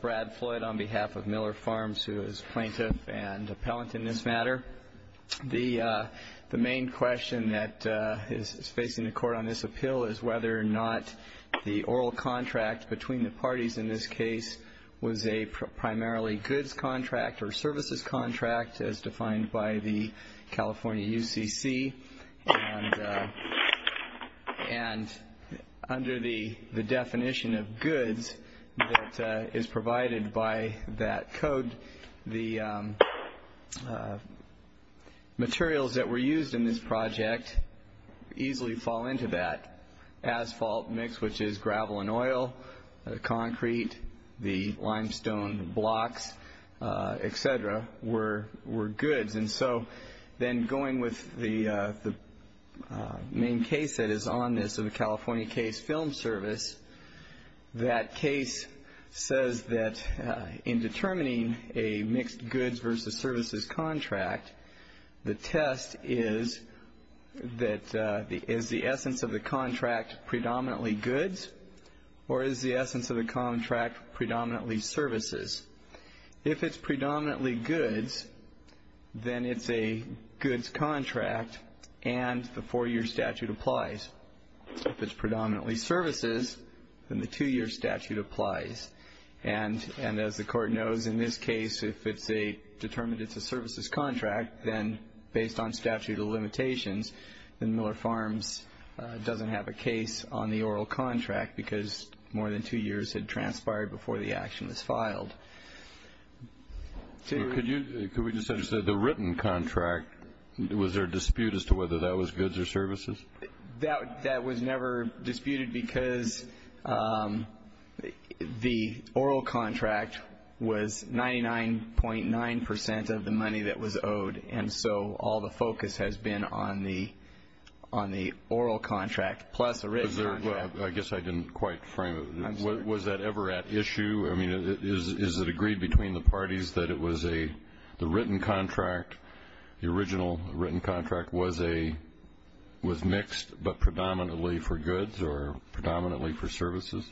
Brad Floyd on behalf of Miller Farms, who is Plaintiff and Appellant in this matter. The main question that is facing the Court on this appeal is whether or not the oral contract between the parties in this case was a primarily goods contract or services contract as defined by the California UCC. And under the definition of goods that is provided by that code, the materials that were used in this project easily fall into that. Asphalt mix, which is gravel and oil, the concrete, the limestone blocks, etc. were goods. And so then going with the main case that is on this, the California Case Film Service, that case says that in determining a mixed goods versus services contract, the test is that is the essence of the contract predominantly goods or is the essence of the contract predominantly services? If it's predominantly goods, then it's a goods contract and the four-year statute applies. If it's predominantly services, then the two-year statute applies. And as the Court knows in this case, if it's determined it's a services contract, then based on statute of limitations, then Miller Farms doesn't have a case on the oral contract because more than two years had transpired before the action was filed. Could we just understand, the written contract, was there a dispute as to whether that was goods or services? That was never disputed because the oral contract was 99.9 percent of the money that was owed. And so all the focus has been on the oral contract plus the written contract. I guess I didn't quite frame it. I'm sorry. Was that ever at issue? I mean, is it agreed between the parties that the written contract, the original written contract, was mixed but predominantly for goods or predominantly for services?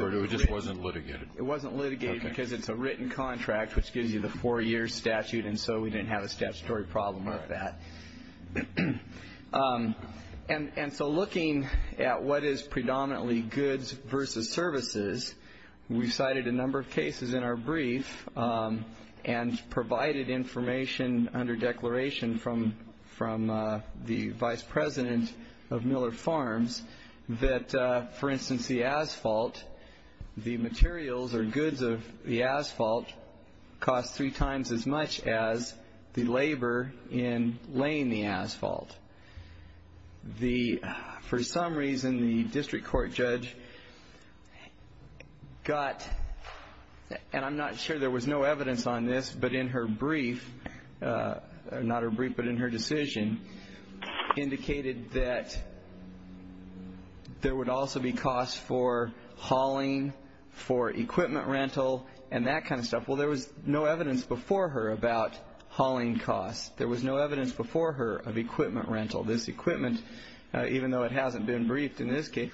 Or it just wasn't litigated? It wasn't litigated because it's a written contract, which gives you the four-year statute, and so we didn't have a statutory problem with that. And so looking at what is predominantly goods versus services, we cited a number of cases in our brief and provided information under declaration from the vice president of Miller Farms that, for instance, the asphalt, the materials or goods of the asphalt cost three times as much as the labor in laying the asphalt. For some reason, the district court judge got, and I'm not sure there was no evidence on this, but in her decision indicated that there would also be costs for hauling, for equipment rental, and that kind of stuff. Well, there was no evidence before her about hauling costs. There was no evidence before her of equipment rental. This equipment, even though it hasn't been briefed in this case,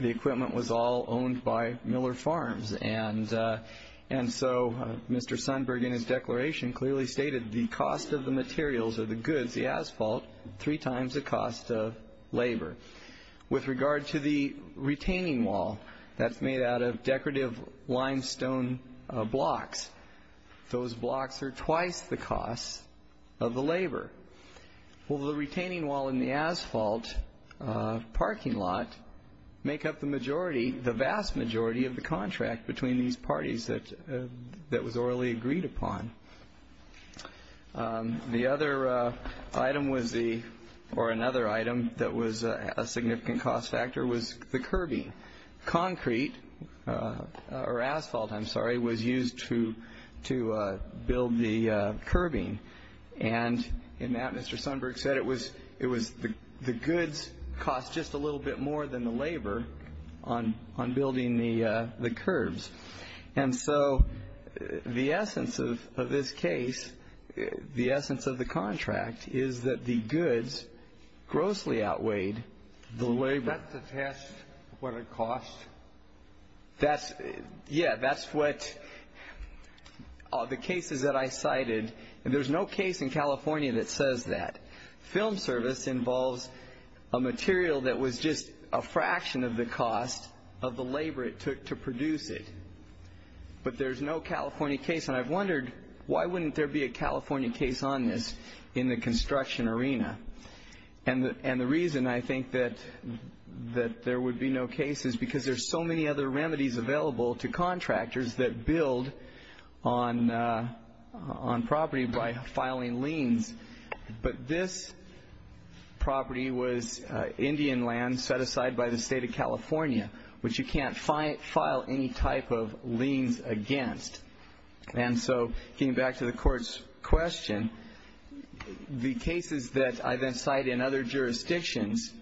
the equipment was all owned by Miller Farms. And so Mr. Sundberg, in his declaration, clearly stated the cost of the materials or the goods, the asphalt, three times the cost of labor. With regard to the retaining wall that's made out of decorative limestone blocks, those blocks are twice the cost of the labor. Well, the retaining wall and the asphalt parking lot make up the majority, the vast majority of the contract between these parties that was orally agreed upon. The other item was the, or another item that was a significant cost factor, was the curbing. Concrete, or asphalt, I'm sorry, was used to build the curbing. And in that, Mr. Sundberg said it was the goods cost just a little bit more than the labor on building the curbs. And so the essence of this case, the essence of the contract, is that the goods grossly outweighed the labor. Is that to test what it cost? That's, yeah, that's what the cases that I cited, and there's no case in California that says that. Film service involves a material that was just a fraction of the cost of the labor it took to produce it. But there's no California case, and I've wondered, why wouldn't there be a California case on this in the construction arena? And the reason I think that there would be no case is because there's so many other remedies available to contractors that build on property by filing liens. But this property was Indian land set aside by the state of California, which you can't file any type of liens against. And so getting back to the court's question, the cases that I then cite in other jurisdictions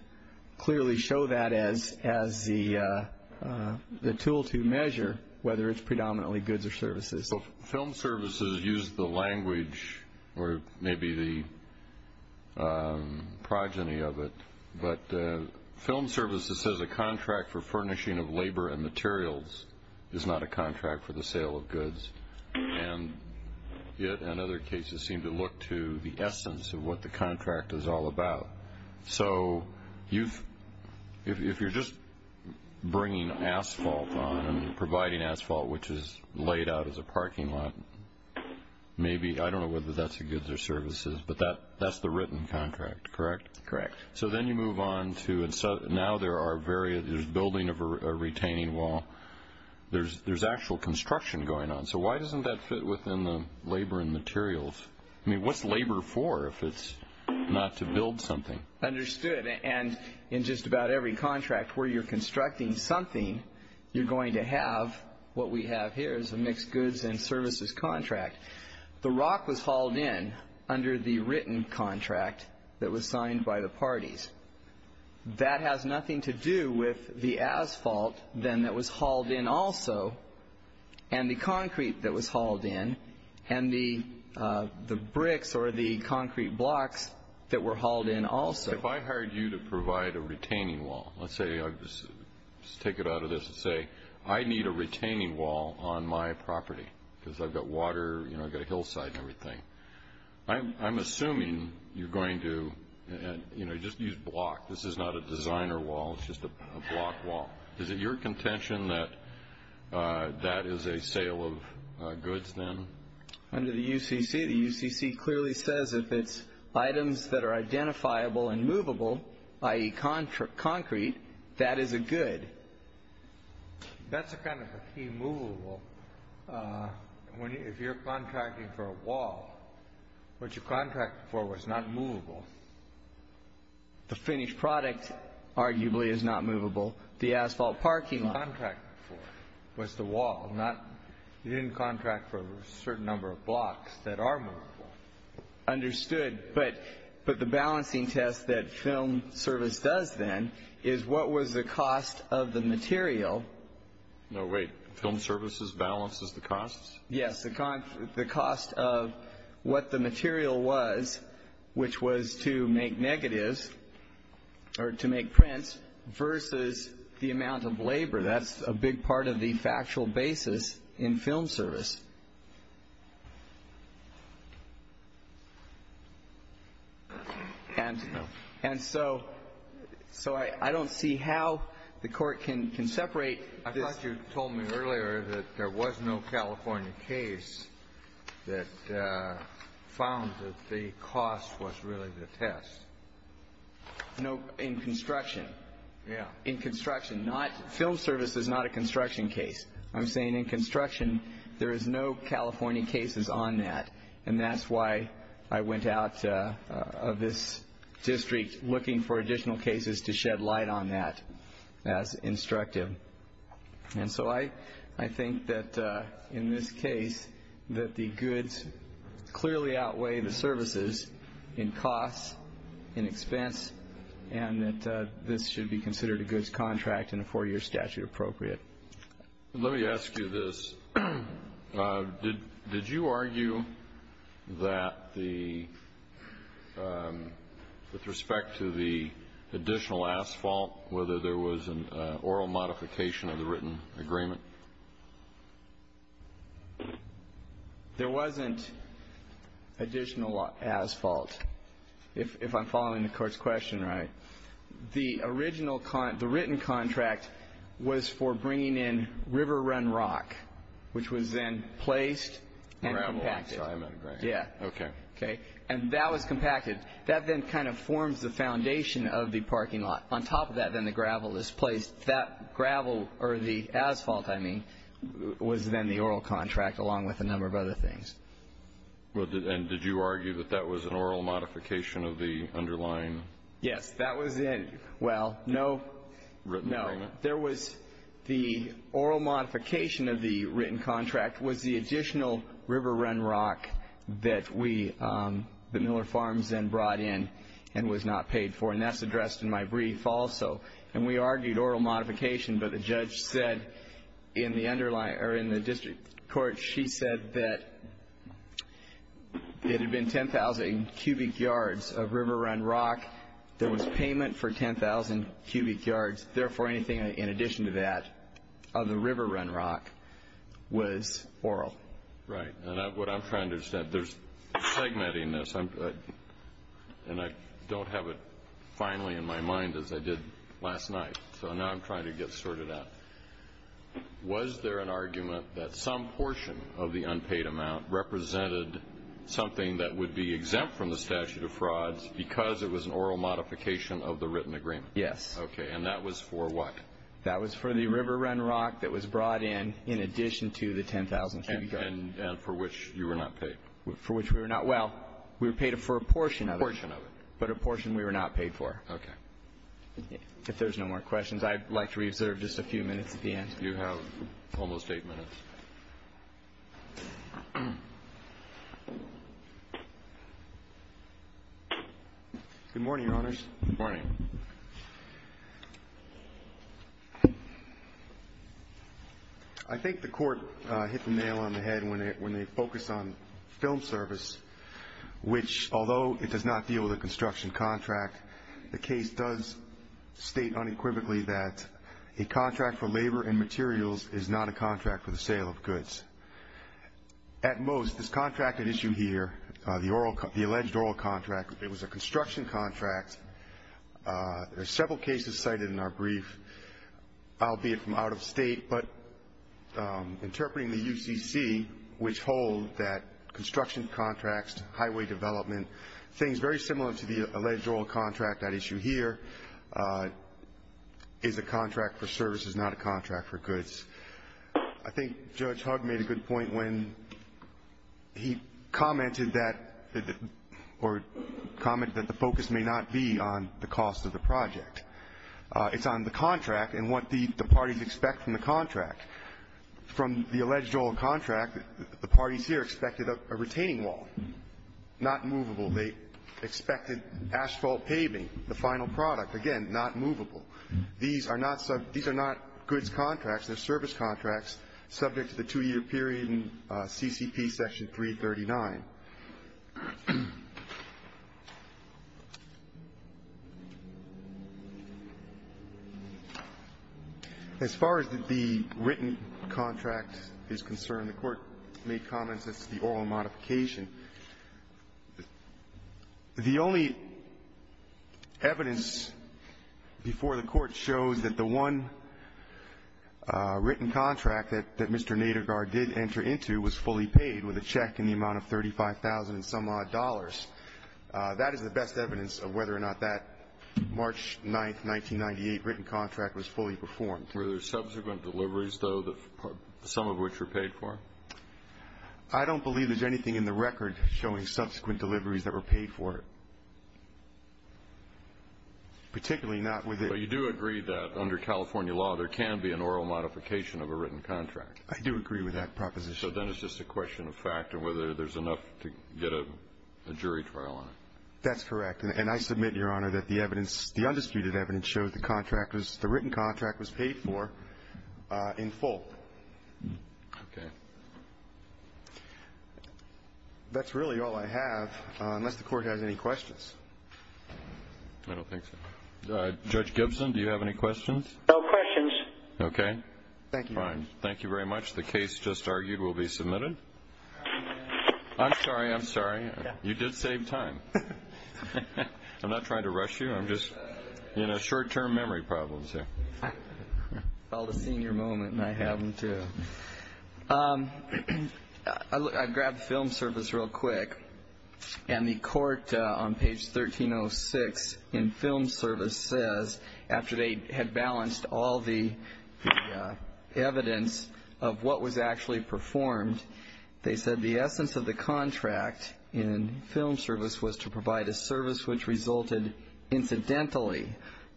clearly show that as the tool to measure whether it's predominantly goods or services. So film services use the language, or maybe the progeny of it, but film services says a contract for furnishing of labor and materials is not a contract for the sale of goods. And it and other cases seem to look to the essence of what the contract is all about. So if you're just bringing asphalt on and providing asphalt, which is laid out as a parking lot, maybe, I don't know whether that's a goods or services, but that's the written contract, correct? Correct. So then you move on to now there's building of a retaining wall. There's actual construction going on. So why doesn't that fit within the labor and materials? I mean, what's labor for if it's not to build something? Understood. And in just about every contract where you're constructing something, you're going to have what we have here is a mixed goods and services contract. The rock was hauled in under the written contract that was signed by the parties. That has nothing to do with the asphalt then that was hauled in also, and the concrete that was hauled in, and the bricks or the concrete blocks that were hauled in also. If I hired you to provide a retaining wall, let's say I just take it out of this and say, I need a retaining wall on my property because I've got water, I've got a hillside and everything. I'm assuming you're going to just use block. This is not a designer wall. It's just a block wall. Is it your contention that that is a sale of goods then? Under the UCC, the UCC clearly says if it's items that are identifiable and movable, i.e. concrete, that is a good. That's a kind of a key movable. If you're contracting for a wall, what you contracted for was not movable. The finished product arguably is not movable. The asphalt parking lot. What you contracted for was the wall. You didn't contract for a certain number of blocks that are movable. Understood. But the balancing test that film service does then is what was the cost of the material? No, wait. Film services balances the costs? Yes. The cost of what the material was, which was to make negatives or to make prints, versus the amount of labor. That's a big part of the factual basis in film service. And so I don't see how the court can separate this. I thought you told me earlier that there was no California case that found that the cost was really the test. No, in construction. Yeah. In construction. Film service is not a construction case. I'm saying in construction there is no California cases on that. And that's why I went out of this district looking for additional cases to shed light on that as instructive. And so I think that in this case that the goods clearly outweigh the services in costs, in expense, and that this should be considered a goods contract and a four-year statute appropriate. Let me ask you this. Did you argue that with respect to the additional asphalt, whether there was an oral modification of the written agreement? There wasn't additional asphalt, if I'm following the court's question right. The written contract was for bringing in river run rock, which was then placed and compacted. And that was compacted. That then kind of forms the foundation of the parking lot. On top of that, then, the gravel is placed. That gravel, or the asphalt, I mean, was then the oral contract, along with a number of other things. And did you argue that that was an oral modification of the underlying? Yes. That was in. Well, no. No. There was the oral modification of the written contract was the additional river run rock that we, that Miller Farms then brought in and was not paid for. And that's addressed in my brief also. And we argued oral modification, but the judge said in the district court, she said that it had been 10,000 cubic yards of river run rock. There was payment for 10,000 cubic yards. Therefore, anything in addition to that of the river run rock was oral. Right. And what I'm trying to understand, there's segmentedness, and I don't have it finally in my mind as I did last night. So now I'm trying to get sorted out. Was there an argument that some portion of the unpaid amount represented something that would be exempt from the statute of frauds because it was an oral modification of the written agreement? Yes. Okay. And that was for what? That was for the river run rock that was brought in in addition to the 10,000 cubic yards. And for which you were not paid. For which we were not. Well, we were paid for a portion of it. A portion of it. But a portion we were not paid for. Okay. If there's no more questions, I'd like to reserve just a few minutes at the end. You have almost eight minutes. Good morning, Your Honors. Good morning. I think the court hit the nail on the head when they focused on film service, which, although it does not deal with a construction contract, the case does state unequivocally that a contract for labor and materials is not a contract for the sale of goods. At most, this contract at issue here, the alleged oral contract, if it was a construction contract, there are several cases cited in our brief, albeit from out of state, but interpreting the UCC, which hold that construction contracts, highway development, things very similar to the alleged oral contract at issue here, is a contract for services, not a contract for goods. I think Judge Hugg made a good point when he commented that the focus may not be on the cost of the project. It's on the contract and what the parties expect from the contract. From the alleged oral contract, the parties here expected a retaining wall, not movable. They expected asphalt paving, the final product, again, not movable. These are not goods contracts. They're service contracts subject to the two-year period in CCP Section 339. As far as the written contract is concerned, the Court made comments as to the oral modification. The only evidence before the Court shows that the one written contract that Mr. Nadergar did enter into was fully paid with a check in the amount of $35,000 and some odd dollars, that is the best evidence of whether or not that March 9, 1998, written contract was fully performed. Were there subsequent deliveries, though, some of which were paid for? I don't believe there's anything in the record showing subsequent deliveries that were paid for, particularly not with it. But you do agree that under California law there can be an oral modification of a written contract? I do agree with that proposition. So then it's just a question of fact and whether there's enough to get a jury trial on it. That's correct. And I submit, Your Honor, that the evidence, the undisputed evidence, the written contract was paid for in full. Okay. That's really all I have, unless the Court has any questions. I don't think so. Judge Gibson, do you have any questions? No questions. Okay. Thank you. Fine. Thank you very much. The case just argued will be submitted. I'm sorry. I'm sorry. You did save time. I'm not trying to rush you. I'm just, you know, short-term memory problems here. Called a senior moment, and I have them, too. I grabbed film service real quick, and the court on page 1306 in film service says, after they had balanced all the evidence of what was actually performed, they said the essence of the contract in film service was to provide a service which resulted incidentally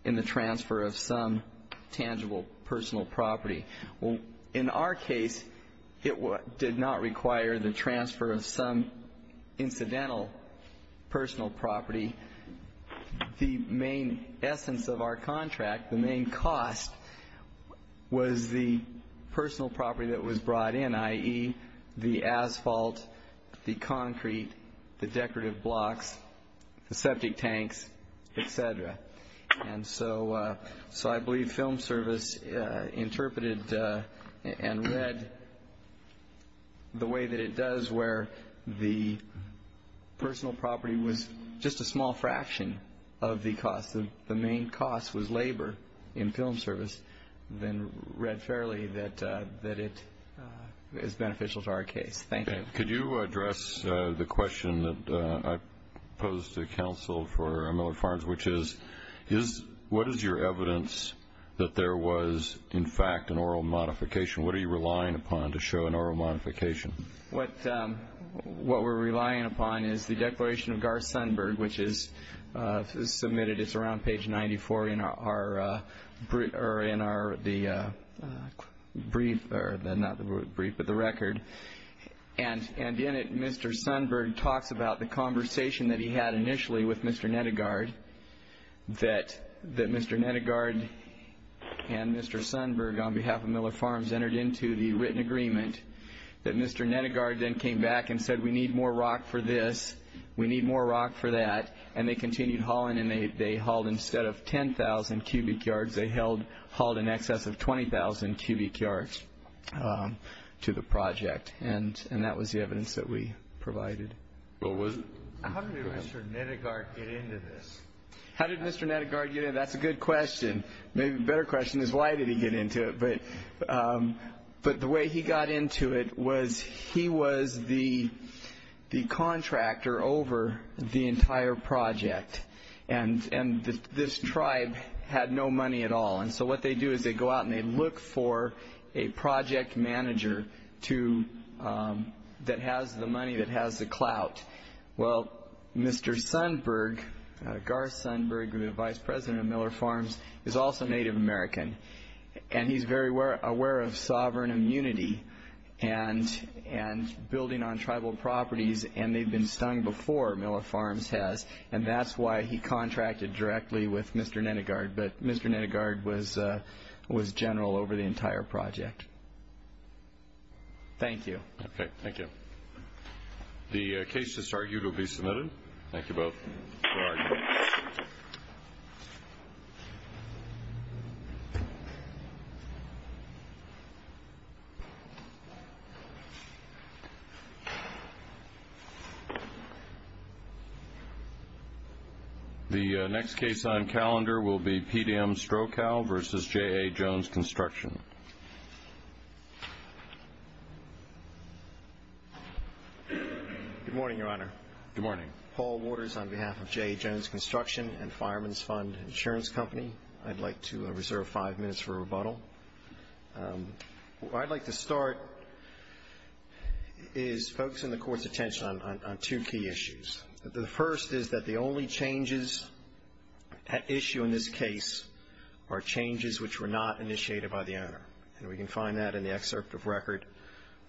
in the transfer of some tangible personal property. Well, in our case, it did not require the transfer of some incidental personal property. The main essence of our contract, the main cost, was the personal property that was brought in, i.e., the asphalt, the concrete, the decorative blocks, the septic tanks, et cetera. And so I believe film service interpreted and read the way that it does, where the personal property was just a small fraction of the cost. The main cost was labor in film service, then read fairly that it is beneficial to our case. Thank you. Could you address the question that I posed to counsel for Miller Farms, which is what is your evidence that there was, in fact, an oral modification? What are you relying upon to show an oral modification? What we're relying upon is the Declaration of Garth Sundberg, which is submitted. It's around page 94 in our brief, not the brief, but the record. And in it, Mr. Sundberg talks about the conversation that he had initially with Mr. Nettegaard, that Mr. Nettegaard and Mr. Sundberg, on behalf of Miller Farms, entered into the written agreement, that Mr. Nettegaard then came back and said, we need more rock for this, we need more rock for that, and they continued hauling, and they hauled, instead of 10,000 cubic yards, they hauled in excess of 20,000 cubic yards to the project. And that was the evidence that we provided. How did Mr. Nettegaard get into this? How did Mr. Nettegaard get in? That's a good question. Maybe a better question is, why did he get into it? But the way he got into it was, he was the contractor over the entire project, and this tribe had no money at all. And so what they do is they go out and they look for a project manager that has the money, that has the clout. Well, Mr. Sundberg, Garth Sundberg, the vice president of Miller Farms, is also Native American, and he's very aware of sovereign immunity and building on tribal properties, and they've been stung before Miller Farms has, and that's why he contracted directly with Mr. Nettegaard. But Mr. Nettegaard was general over the entire project. Thank you. Okay, thank you. The case that's argued will be submitted. Thank you both for arguing. The next case on calendar will be PDM Strokow v. J.A. Jones Construction. Good morning, Your Honor. Good morning. Paul Waters on behalf of J.A. Jones Construction and Fireman's Fund Insurance Company. I'd like to reserve five minutes for rebuttal. Where I'd like to start is focusing the Court's attention on two key issues. The first is that the only changes at issue in this case are changes which were not initiated by the owner, and we can find that in the excerpt of record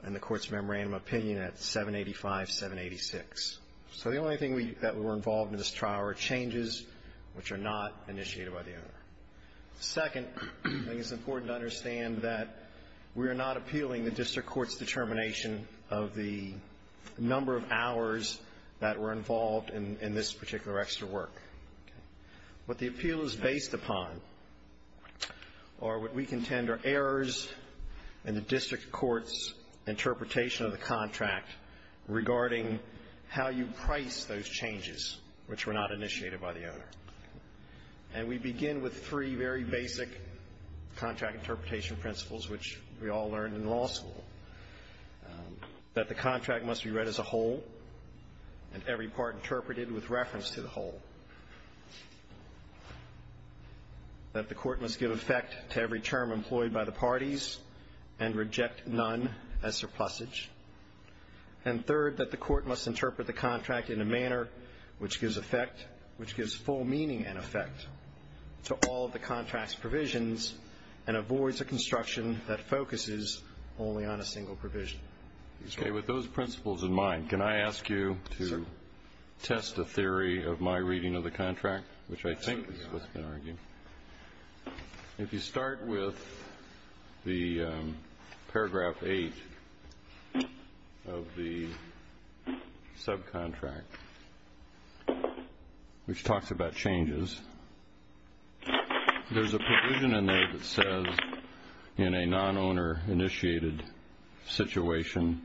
in the Court's Memorandum of Opinion at 785-786. So the only thing that were involved in this trial are changes which are not initiated by the owner. Second, I think it's important to understand that we are not appealing the district court's determination of the number of hours that were involved in this particular extra work. What the appeal is based upon are what we contend are errors in the district court's interpretation of the contract regarding how you price those changes which were not initiated by the owner. And we begin with three very basic contract interpretation principles which we all learned in law school, that the contract must be read as a whole and every part interpreted with reference to the whole, that the court must give effect to every term employed by the parties and reject none as surplusage, and third, that the court must interpret the contract in a manner which gives full meaning and effect to all of the contract's Okay, with those principles in mind, can I ask you to test a theory of my reading of the contract, which I think is what's been argued. If you start with the paragraph 8 of the subcontract, which talks about changes, there's a provision in there that says, in a non-owner-initiated situation,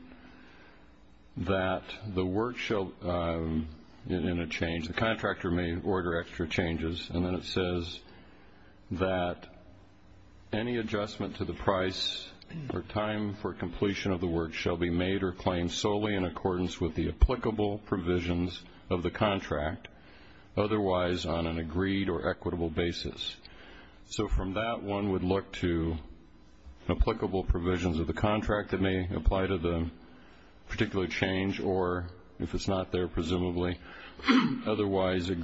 that the contractor may order extra changes. And then it says that any adjustment to the price or time for completion of the work shall be made or claimed solely in accordance with the applicable provisions of the contract, otherwise on an agreed or equitable basis. So from that, one would look to applicable provisions of the contract that may apply to the particular change or, if it's not there presumably, otherwise on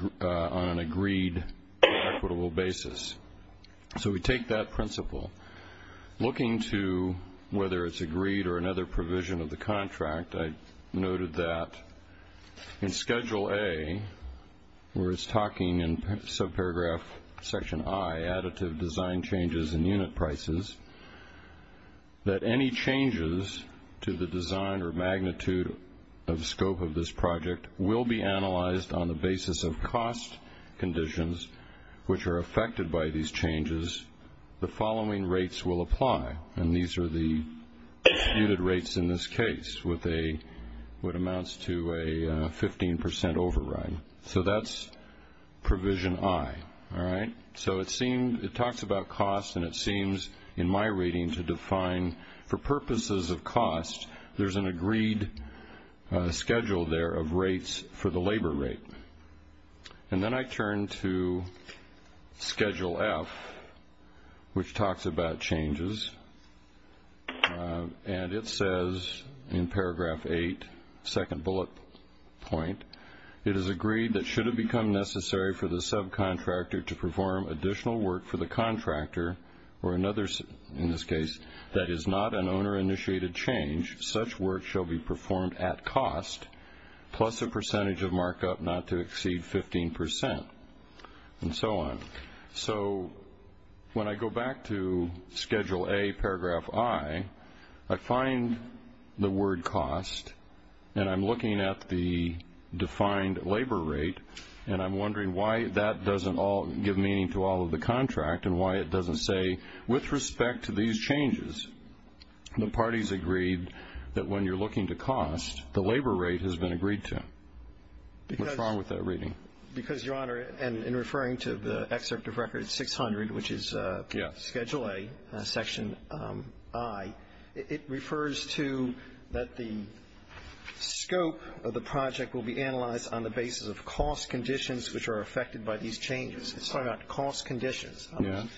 an agreed or equitable basis. So we take that principle. Looking to whether it's agreed or another provision of the contract, I noted that in Schedule A, where it's talking in subparagraph section I, additive design changes in unit prices, that any changes to the design or magnitude of scope of this project will be analyzed on the basis of cost conditions which are affected by these changes. The following rates will apply, and these are the computed rates in this case, with what amounts to a 15 percent override. So that's provision I. So it talks about cost, and it seems in my reading to define, for purposes of cost, there's an agreed schedule there of rates for the labor rate. And then I turn to Schedule F, which talks about changes, and it says in paragraph 8, second bullet point, it is agreed that should it become necessary for the subcontractor to perform additional work for the contractor or another, in this case, that is not an owner-initiated change, such work shall be performed at cost, plus a percentage of markup not to exceed 15 percent, and so on. So when I go back to Schedule A, paragraph I, I find the word cost, and I'm looking at the defined labor rate, and I'm wondering why that doesn't give meaning to all of the contract and why it doesn't say with respect to these changes, the parties agreed that when you're looking to cost, the labor rate has been agreed to. What's wrong with that reading? Because, Your Honor, and in referring to the excerpt of Record 600, which is Schedule A, section I, it refers to that the scope of the project will be analyzed on the basis of cost conditions which are affected by these changes. It's talking about cost conditions,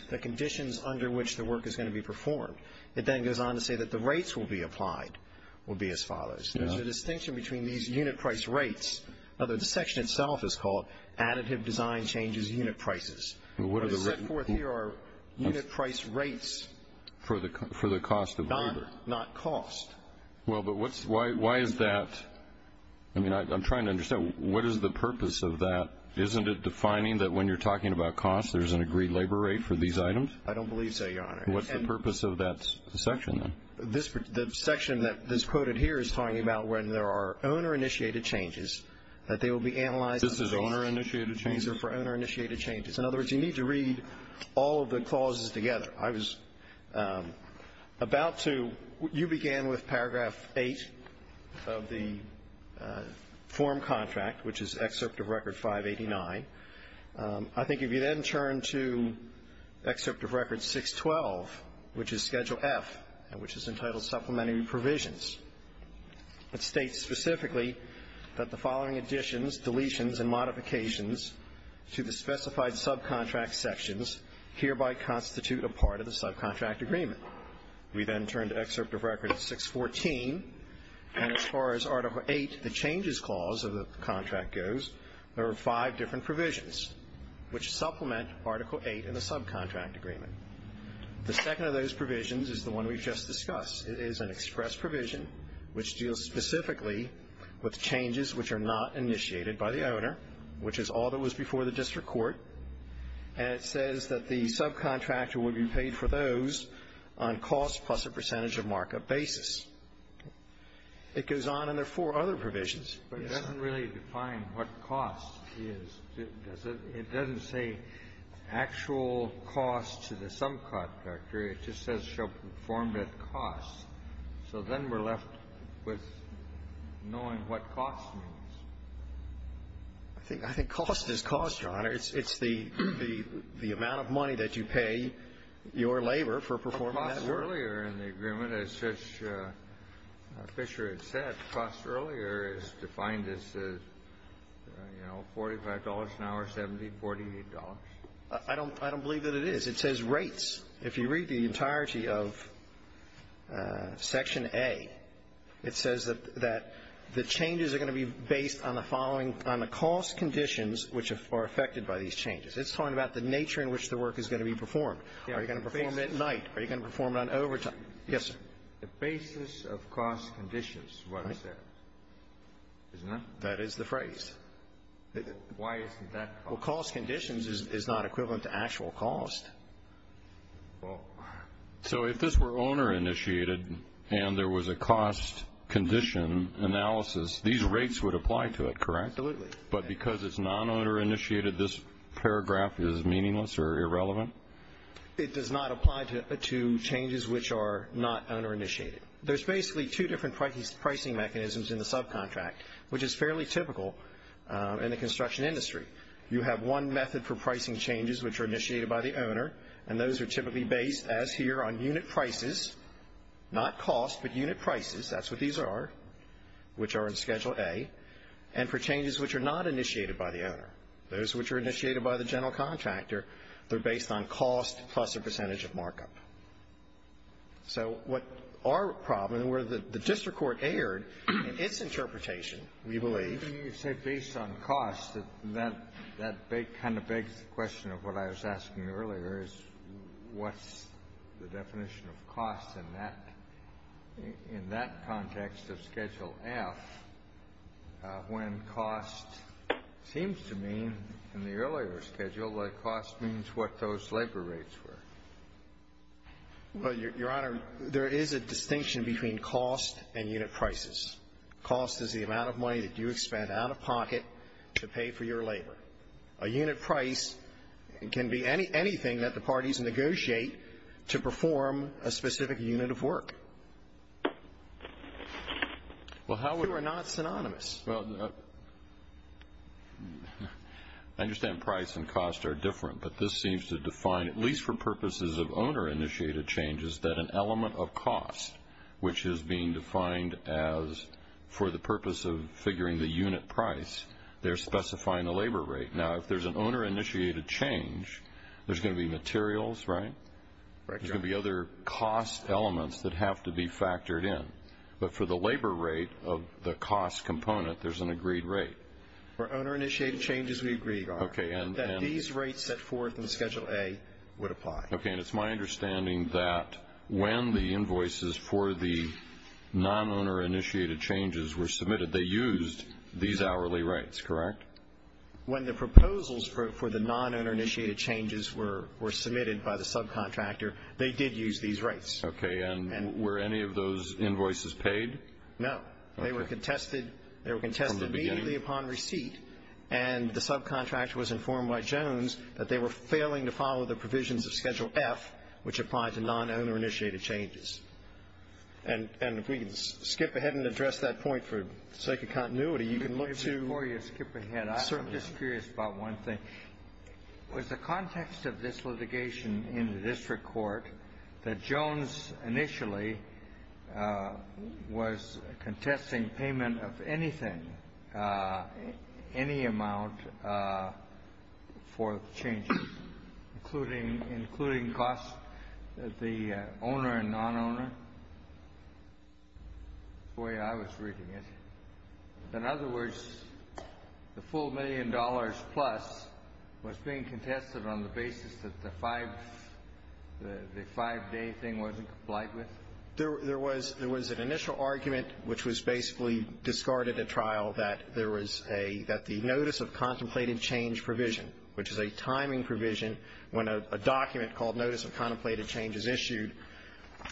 the conditions under which the work is going to be performed. It then goes on to say that the rates will be applied will be as follows. There's a distinction between these unit price rates, although the section itself is called Additive Design Changes Unit Prices. But it's set forth here are unit price rates. For the cost of labor. Not cost. Well, but why is that? I mean, I'm trying to understand. What is the purpose of that? Isn't it defining that when you're talking about cost, there's an agreed labor rate for these items? I don't believe so, Your Honor. What's the purpose of that section then? The section that is quoted here is talking about when there are owner-initiated changes, that they will be analyzed. This is owner-initiated changes? These are for owner-initiated changes. In other words, you need to read all of the clauses together. I was about to. You began with Paragraph 8 of the form contract, which is Excerpt of Record 589. I think if you then turn to Excerpt of Record 612, which is Schedule F, which is entitled Supplementary Provisions, it states specifically that the following additions, deletions, and modifications to the specified subcontract sections hereby constitute a part of the subcontract agreement. We then turn to Excerpt of Record 614, and as far as Article 8, the Changes Clause of the contract goes, there are five different provisions which supplement Article 8 in the subcontract agreement. The second of those provisions is the one we've just discussed. It is an express provision which deals specifically with changes which are not initiated by the owner, which is all that was before the district court, and it says that the subcontractor would be paid for those on cost plus a percentage of markup basis. It goes on, and there are four other provisions. But it doesn't really define what cost is, does it? It doesn't say actual cost to the subcontractor. It just says shall perform at cost. So then we're left with knowing what cost means. I think cost is cost, Your Honor. It's the amount of money that you pay your labor for performing that work. Earlier in the agreement, as Fisher had said, cost earlier is defined as, you know, $45 an hour, $70, $40. I don't believe that it is. It says rates. If you read the entirety of Section A, it says that the changes are going to be based on the following on the cost conditions which are affected by these changes. It's talking about the nature in which the work is going to be performed. Are you going to perform at night? Are you going to perform it on overtime? Yes, sir. The basis of cost conditions is what it says, isn't it? That is the phrase. Why isn't that cost conditions? Well, cost conditions is not equivalent to actual cost. So if this were owner initiated and there was a cost condition analysis, these rates would apply to it, correct? Absolutely. But because it's non-owner initiated, this paragraph is meaningless or irrelevant? It does not apply to changes which are not owner initiated. There's basically two different pricing mechanisms in the subcontract, which is fairly typical in the construction industry. You have one method for pricing changes which are initiated by the owner, and those are typically based, as here, on unit prices, not cost, but unit prices. That's what these are, which are in Schedule A. And for changes which are not initiated by the owner, those which are initiated by the general contractor, they're based on cost plus a percentage of markup. So what our problem, and where the district court erred in its interpretation, we believe. When you say based on cost, that kind of begs the question of what I was asking earlier, is what's the definition of cost in that context of Schedule F when cost seems to mean, in the earlier schedule, that cost means what those labor rates were? Well, Your Honor, there is a distinction between cost and unit prices. Cost is the amount of money that you expend out of pocket to pay for your labor. A unit price can be anything that the parties negotiate to perform a specific unit of work. They are not synonymous. I understand price and cost are different, but this seems to define, at least for purposes of owner-initiated changes, that an element of cost, which is being defined as for the purpose of figuring the unit price, they're specifying the labor rate. Now, if there's an owner-initiated change, there's going to be materials, right? Right, Your Honor. There's going to be other cost elements that have to be factored in. But for the labor rate of the cost component, there's an agreed rate. For owner-initiated changes, we agree, Your Honor, that these rates set forth in Schedule A would apply. Okay, and it's my understanding that when the invoices for the non-owner-initiated changes were submitted, they used these hourly rates, correct? When the proposals for the non-owner-initiated changes were submitted by the subcontractor, they did use these rates. Okay, and were any of those invoices paid? No. Okay. They were contested immediately upon receipt, and the subcontractor was informed by Jones that they were failing to follow the provisions of Schedule F, which applied to non-owner-initiated changes. And if we can skip ahead and address that point for the sake of continuity, you can look to ---- Before you skip ahead, I'm just curious about one thing. With the context of this litigation in the district court, that Jones initially was contesting payment of anything, any amount for the changes, including costs, the owner and non-owner, the way I was reading it. In other words, the full million dollars plus was being contested on the basis that the five-day thing wasn't complied with? There was an initial argument, which was basically discarded at trial, that there was a ---- that the notice of contemplated change provision, which is a timing provision when a document called notice of contemplated change is issued,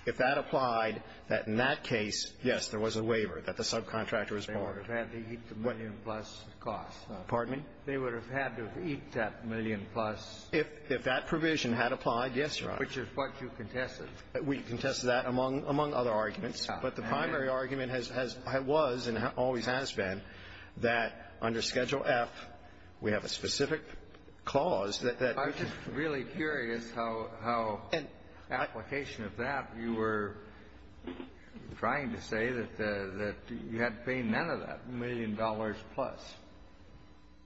if that applied, that in that case, yes, there was a waiver that the subcontractor was borrowed. They would have had to eat the million-plus cost. Pardon me? They would have had to eat that million-plus. If that provision had applied, yes, Your Honor. Which is what you contested. We contested that, among other arguments. But the primary argument has been, was, and always has been, that under Schedule F, we have a specific clause that ---- I'm just really curious how application of that, you were trying to say that you had to pay none of that million dollars plus.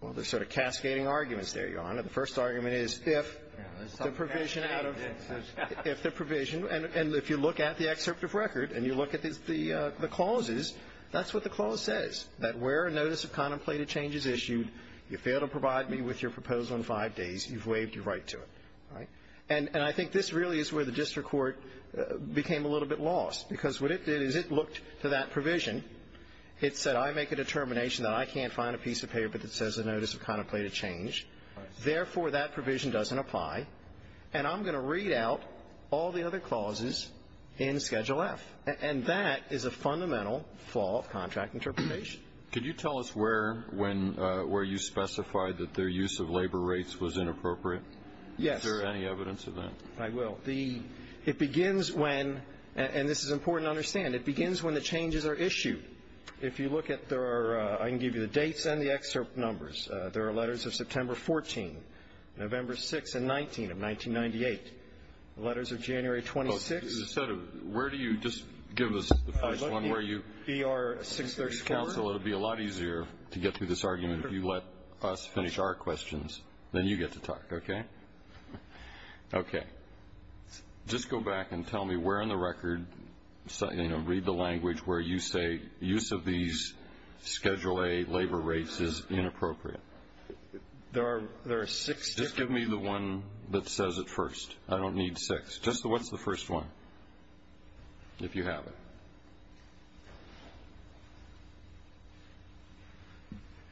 Well, there's sort of cascading arguments there, Your Honor. The first argument is if the provision out of ---- If the provision, and if you look at the excerpt of record and you look at the clauses, that's what the clause says, that where a notice of contemplated change is issued, you fail to provide me with your proposal in five days, you've waived your right to it. All right? And I think this really is where the district court became a little bit lost, because what it did is it looked to that provision. It said, I make a determination that I can't find a piece of paper that says a notice of contemplated change. Therefore, that provision doesn't apply. And I'm going to read out all the other clauses in Schedule F. And that is a fundamental flaw of contract interpretation. Judge, could you tell us where you specified that their use of labor rates was inappropriate? Yes. Is there any evidence of that? I will. It begins when, and this is important to understand, it begins when the changes are issued. If you look at, there are, I can give you the dates and the excerpt numbers. There are letters of September 14, November 6 and 19 of 1998. Letters of January 26. Instead of, where do you, just give us the first one. It would be a lot easier to get through this argument if you let us finish our questions. Then you get to talk, okay? Okay. Just go back and tell me where in the record, you know, read the language where you say use of these Schedule A labor rates is inappropriate. There are six. Just give me the one that says it first. I don't need six. Just the, what's the first one, if you have it?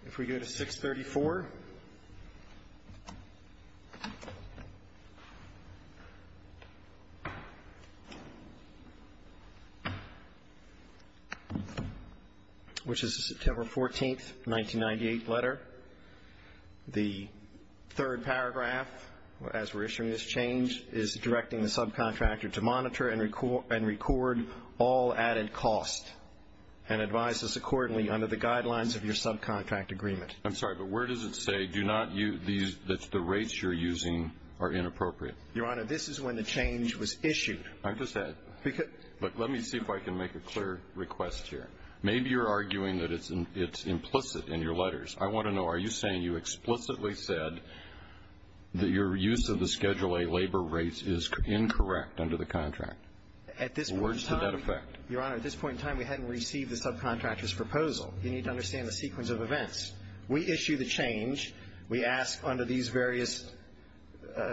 If we go to 634, which is the September 14, 1998 letter. The third paragraph, as we're issuing this change, is directing the subcontractor to monitor and record all added cost and advise us accordingly under the guidelines of your subcontract agreement. I'm sorry, but where does it say do not use these, that the rates you're using are inappropriate? Your Honor, this is when the change was issued. I'm just, look, let me see if I can make a clear request here. Maybe you're arguing that it's implicit in your letters. I want to know, are you saying you explicitly said that your use of the Schedule A labor rates is incorrect under the contract? Words to that effect. Your Honor, at this point in time, we hadn't received the subcontractor's proposal. You need to understand the sequence of events. We issue the change. We ask under these various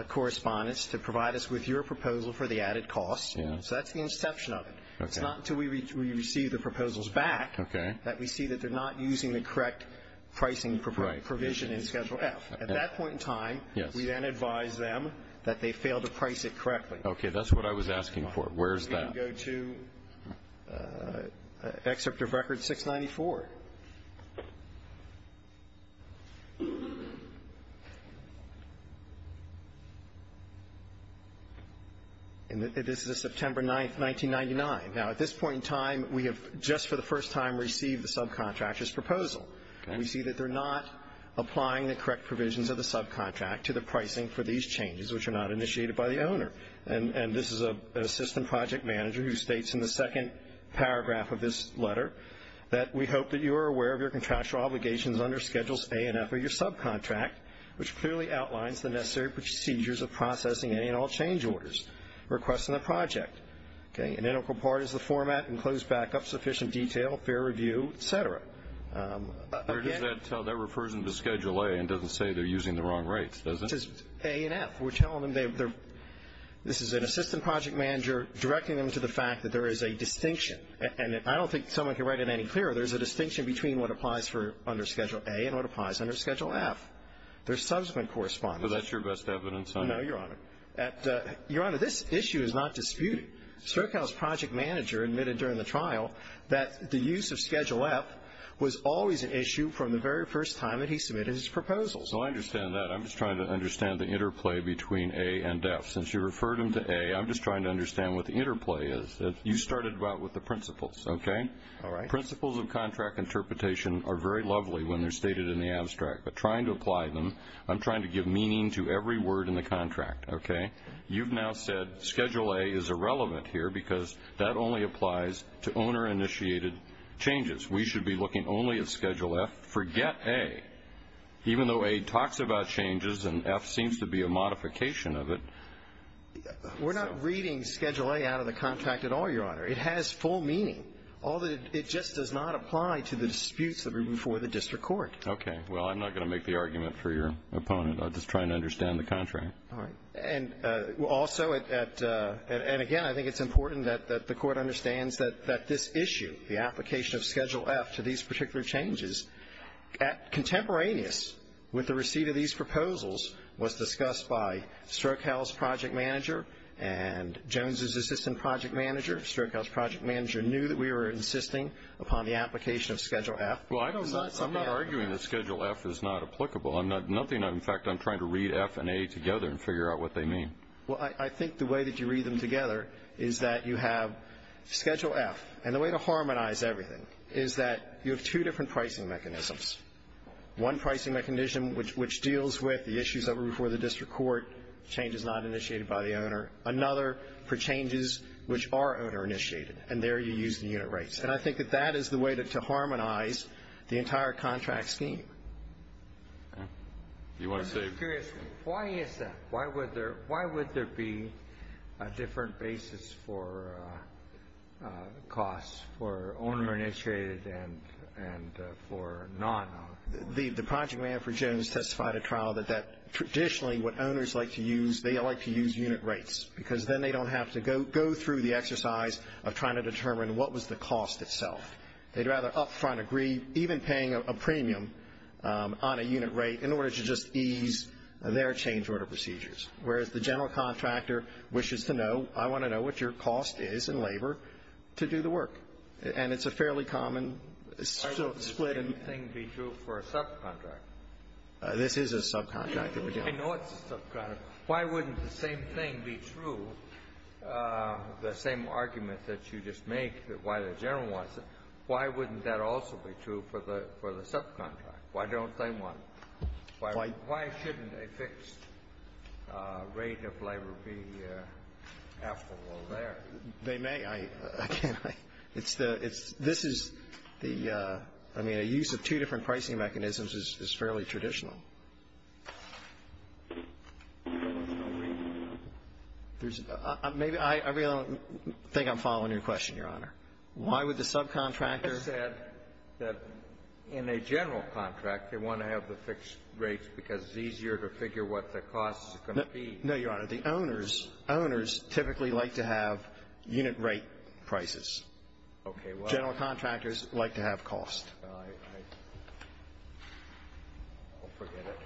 correspondence to provide us with your proposal for the added costs. So that's the inception of it. It's not until we receive the proposals back that we see that they're not using the correct pricing provision in Schedule F. At that point in time, we then advise them that they failed to price it correctly. Okay. That's what I was asking for. Where's that? Go to Excerpt of Record 694. And this is September 9th, 1999. Now, at this point in time, we have just for the first time received the subcontractor's proposal. We see that they're not applying the correct provisions of the subcontract to the pricing for these changes, which are not initiated by the owner. And this is an assistant project manager who states in the second paragraph of this letter that, we hope that you are aware of your contractual obligations under Schedules A and F of your subcontract, which clearly outlines the necessary procedures of processing any and all change orders, requests in the project. Okay. An integral part is the format, enclosed backup, sufficient detail, fair review, et cetera. That refers them to Schedule A and doesn't say they're using the wrong rates, does it? It says A and F. We're telling them this is an assistant project manager directing them to the fact that there is a distinction. And I don't think someone can write it any clearer. There's a distinction between what applies for under Schedule A and what applies under Schedule F. There's subsequent correspondence. So that's your best evidence? No, Your Honor. Your Honor, this issue is not disputed. Sterkow's project manager admitted during the trial that the use of Schedule F was always an issue from the very first time that he submitted his proposal. So I understand that. I'm just trying to understand the interplay between A and F. Since you referred him to A, I'm just trying to understand what the interplay is. You started about with the principles, okay? All right. Principles of contract interpretation are very lovely when they're stated in the abstract. But trying to apply them, I'm trying to give meaning to every word in the contract. Okay? You've now said Schedule A is irrelevant here because that only applies to owner-initiated changes. We should be looking only at Schedule F. Forget A. Even though A talks about changes and F seems to be a modification of it. We're not reading Schedule A out of the contract at all, Your Honor. It has full meaning. It just does not apply to the disputes that are before the district court. Okay. Well, I'm not going to make the argument for your opponent. I'm just trying to understand the contract. All right. And also, and again, I think it's important that the court understands that this issue, the application of Schedule F to these particular changes, contemporaneous with the receipt of these proposals was discussed by Strokel's project manager and Jones's assistant project manager. Strokel's project manager knew that we were insisting upon the application of Schedule F. Well, I'm not arguing that Schedule F is not applicable. In fact, I'm trying to read F and A together and figure out what they mean. Well, I think the way that you read them together is that you have Schedule F. And the way to harmonize everything is that you have two different pricing mechanisms, one pricing mechanism which deals with the issues that were before the district court, changes not initiated by the owner, another for changes which are owner-initiated, and there you use the unit rates. And I think that that is the way to harmonize the entire contract scheme. I'm just curious. Why is that? Why would there be a different basis for costs for owner-initiated and for non-owner-initiated? The project manager for Jones testified at trial that traditionally what owners like to use, they like to use unit rates because then they don't have to go through the exercise of trying to determine what was the cost itself. They'd rather up front agree, even paying a premium on a unit rate, in order to just ease their change order procedures, whereas the general contractor wishes to know, I want to know what your cost is in labor to do the work. And it's a fairly common split. Why wouldn't the same thing be true for a subcontractor? This is a subcontractor. I know it's a subcontractor. But why wouldn't the same thing be true, the same argument that you just make that why the general wants it, why wouldn't that also be true for the subcontractor? Why don't they want it? Why shouldn't a fixed rate of labor be applicable there? They may. I can't. This is the ‑‑ I mean, a use of two different pricing mechanisms is fairly traditional. I really don't think I'm following your question, Your Honor. Why would the subcontractor ‑‑ You just said that in a general contract they want to have the fixed rates because it's easier to figure what the cost is going to be. No, Your Honor. The owners typically like to have unit rate prices. General contractors like to have cost. I'll forget it.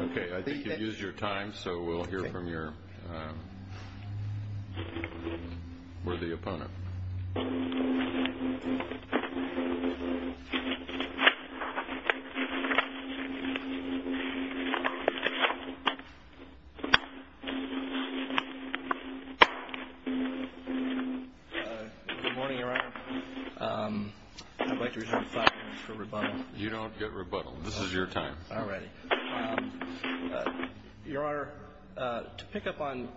Okay. I think you've used your time, so we'll hear from your worthy opponent. Good morning, Your Honor. I'd like to reserve five minutes for rebuttal. You don't get rebuttal. All right. Your Honor, to pick up on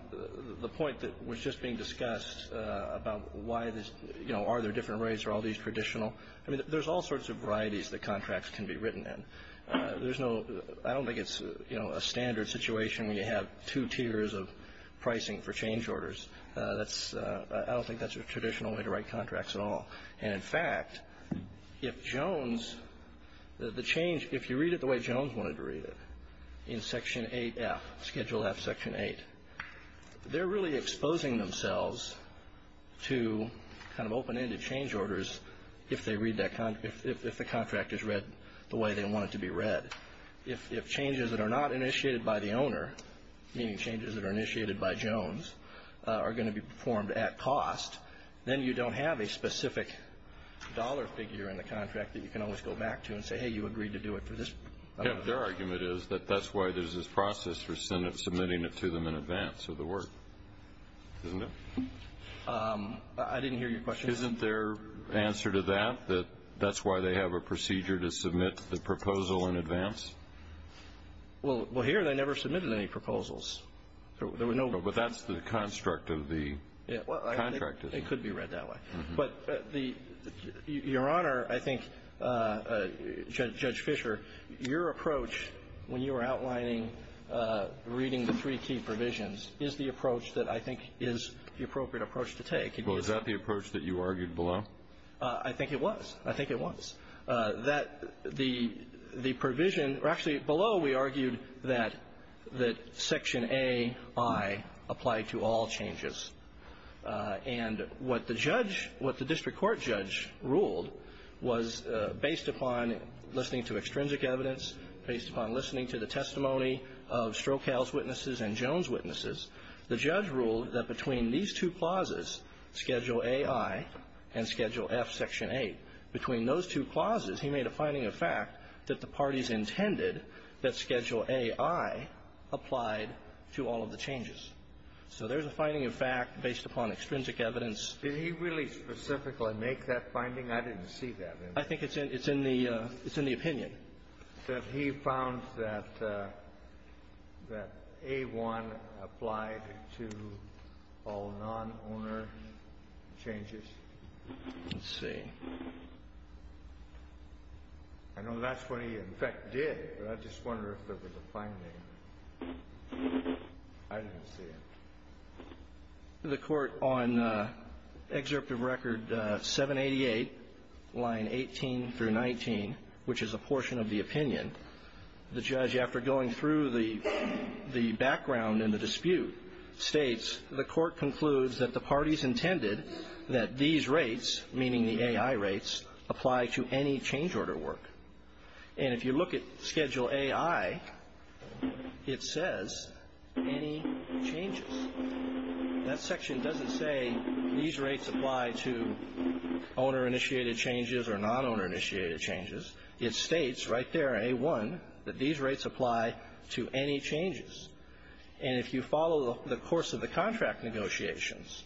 the point that was just being discussed about why this ‑‑ you know, are there different rates? Are all these traditional? I mean, there's all sorts of varieties that contracts can be written in. There's no ‑‑ I don't think it's, you know, a standard situation when you have two tiers of pricing for change orders. That's ‑‑ I don't think that's a traditional way to write contracts at all. And, in fact, if Jones, the change, if you read it the way Jones wanted to read it, in Section 8F, Schedule F, Section 8, they're really exposing themselves to kind of open ended change orders if they read that ‑‑ if the contract is read the way they want it to be read. If changes that are not initiated by the owner, meaning changes that are initiated by Jones, are going to be performed at cost, then you don't have a specific dollar figure in the contract that you can always go back to and say, hey, you agreed to do it for this. Yeah, but their argument is that that's why there's this process for submitting it to them in advance of the work, isn't it? I didn't hear your question. Isn't their answer to that that that's why they have a procedure to submit the proposal in advance? Well, here they never submitted any proposals. There were no ‑‑ No, but that's the construct of the contract, isn't it? It could be read that way. But the ‑‑ Your Honor, I think Judge Fischer, your approach when you were outlining reading the three key provisions is the approach that I think is the appropriate approach to take. Well, is that the approach that you argued below? I think it was. I think it was. That the provision, or actually below we argued that section A.I. applied to all changes. And what the judge, what the district court judge ruled was based upon listening to extrinsic evidence, based upon listening to the testimony of Strokal's witnesses and Jones' witnesses, the judge ruled that between these two clauses, Schedule A.I. and Schedule F, Section 8, between those two clauses, he made a finding of fact that the parties intended that Schedule A.I. applied to all of the changes. So there's a finding of fact based upon extrinsic evidence. Did he really specifically make that finding? I didn't see that. I think it's in the ‑‑ it's in the opinion. He said he found that A.I. applied to all non-owner changes. Let's see. I know that's what he in fact did, but I just wonder if there was a finding. I didn't see it. The court on Excerpt of Record 788, line 18 through 19, which is a portion of the opinion, the judge, after going through the background and the dispute, states the court concludes that the parties intended that these rates, meaning the A.I. rates, apply to any change order work. And if you look at Schedule A.I., it says any changes. That section doesn't say these rates apply to owner-initiated changes or non-owner-initiated changes. It states right there, A.I., that these rates apply to any changes. And if you follow the course of the contract negotiations,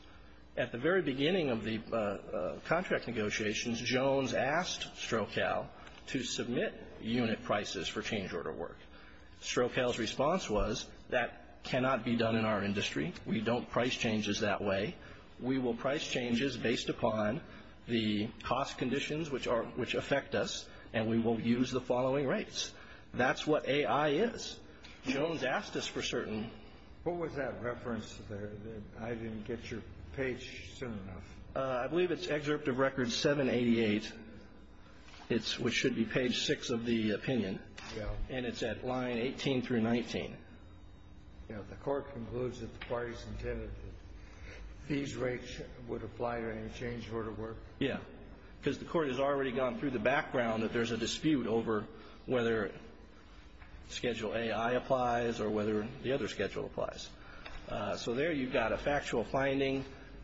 at the very beginning of the contract negotiations, Jones asked Strokow to submit unit prices for change order work. Strokow's response was, that cannot be done in our industry. We don't price changes that way. We will price changes based upon the cost conditions which affect us, and we will use the following rates. That's what A.I. is. Jones asked us for certain. What was that reference there that I didn't get your page soon enough? I believe it's excerpt of record 788. It's what should be page 6 of the opinion. Yeah. And it's at line 18 through 19. Yeah. The court concludes that the parties intended that these rates would apply to any change order work. Yeah. Because the court has already gone through the background that there's a dispute over whether Schedule A.I. applies or whether the other schedule applies. So there you've got a factual finding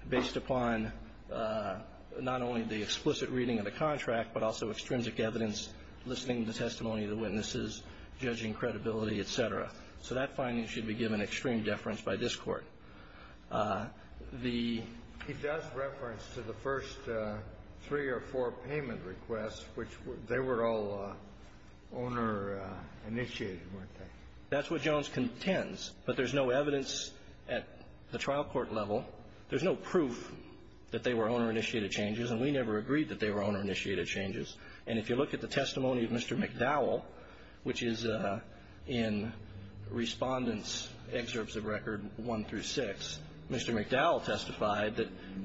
based upon not only the explicit reading of the contract, but also extrinsic evidence, listening to testimony of the witnesses, judging credibility, et cetera. So that finding should be given extreme deference by this Court. He does reference to the first three or four payment requests, which they were all owner-initiated, weren't they? That's what Jones contends, but there's no evidence at the trial court level. There's no proof that they were owner-initiated changes, and we never agreed that they were owner-initiated changes. And if you look at the testimony of Mr. McDowell, which is in Respondent's Excerpts of Record 1 through 6, Mr. McDowell testified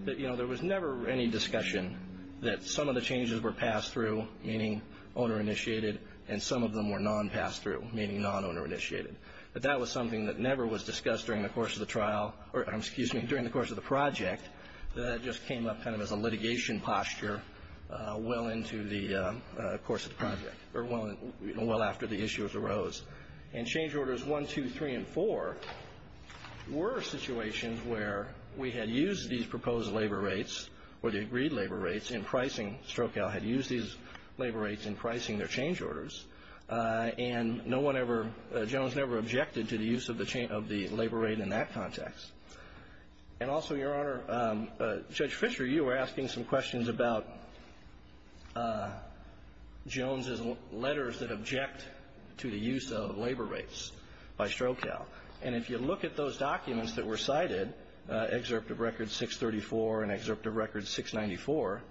that, you know, there was never any discussion that some of the changes were passed through, meaning owner-initiated, and some of them were non-passed through, meaning non-owner-initiated. But that was something that never was discussed during the course of the trial or, excuse me, during the course of the project. That just came up kind of as a litigation posture well into the course of the project or well after the issues arose. And Change Orders 1, 2, 3, and 4 were situations where we had used these proposed labor rates or the agreed labor rates in pricing. Strokow had used these labor rates in pricing their Change Orders. And no one ever, Jones never objected to the use of the labor rate in that context. And also, Your Honor, Judge Fischer, you were asking some questions about Jones's letters that object to the use of labor rates by Strokow. And if you look at those documents that were cited, Excerpt of Record 634 and Excerpt of Record 694,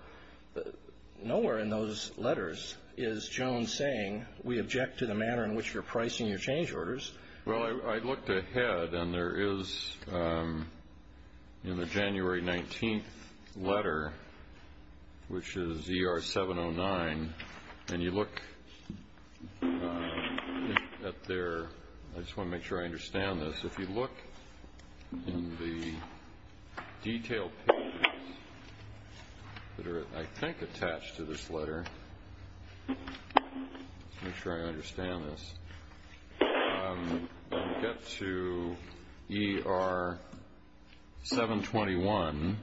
nowhere in those letters is Jones saying we object to the manner in which you're pricing your Change Orders. Well, I looked ahead, and there is in the January 19th letter, which is ER 709, and you look at there, I just want to make sure I understand this, if you look in the detailed papers that are, I think, attached to this letter, make sure I understand this, get to ER 721,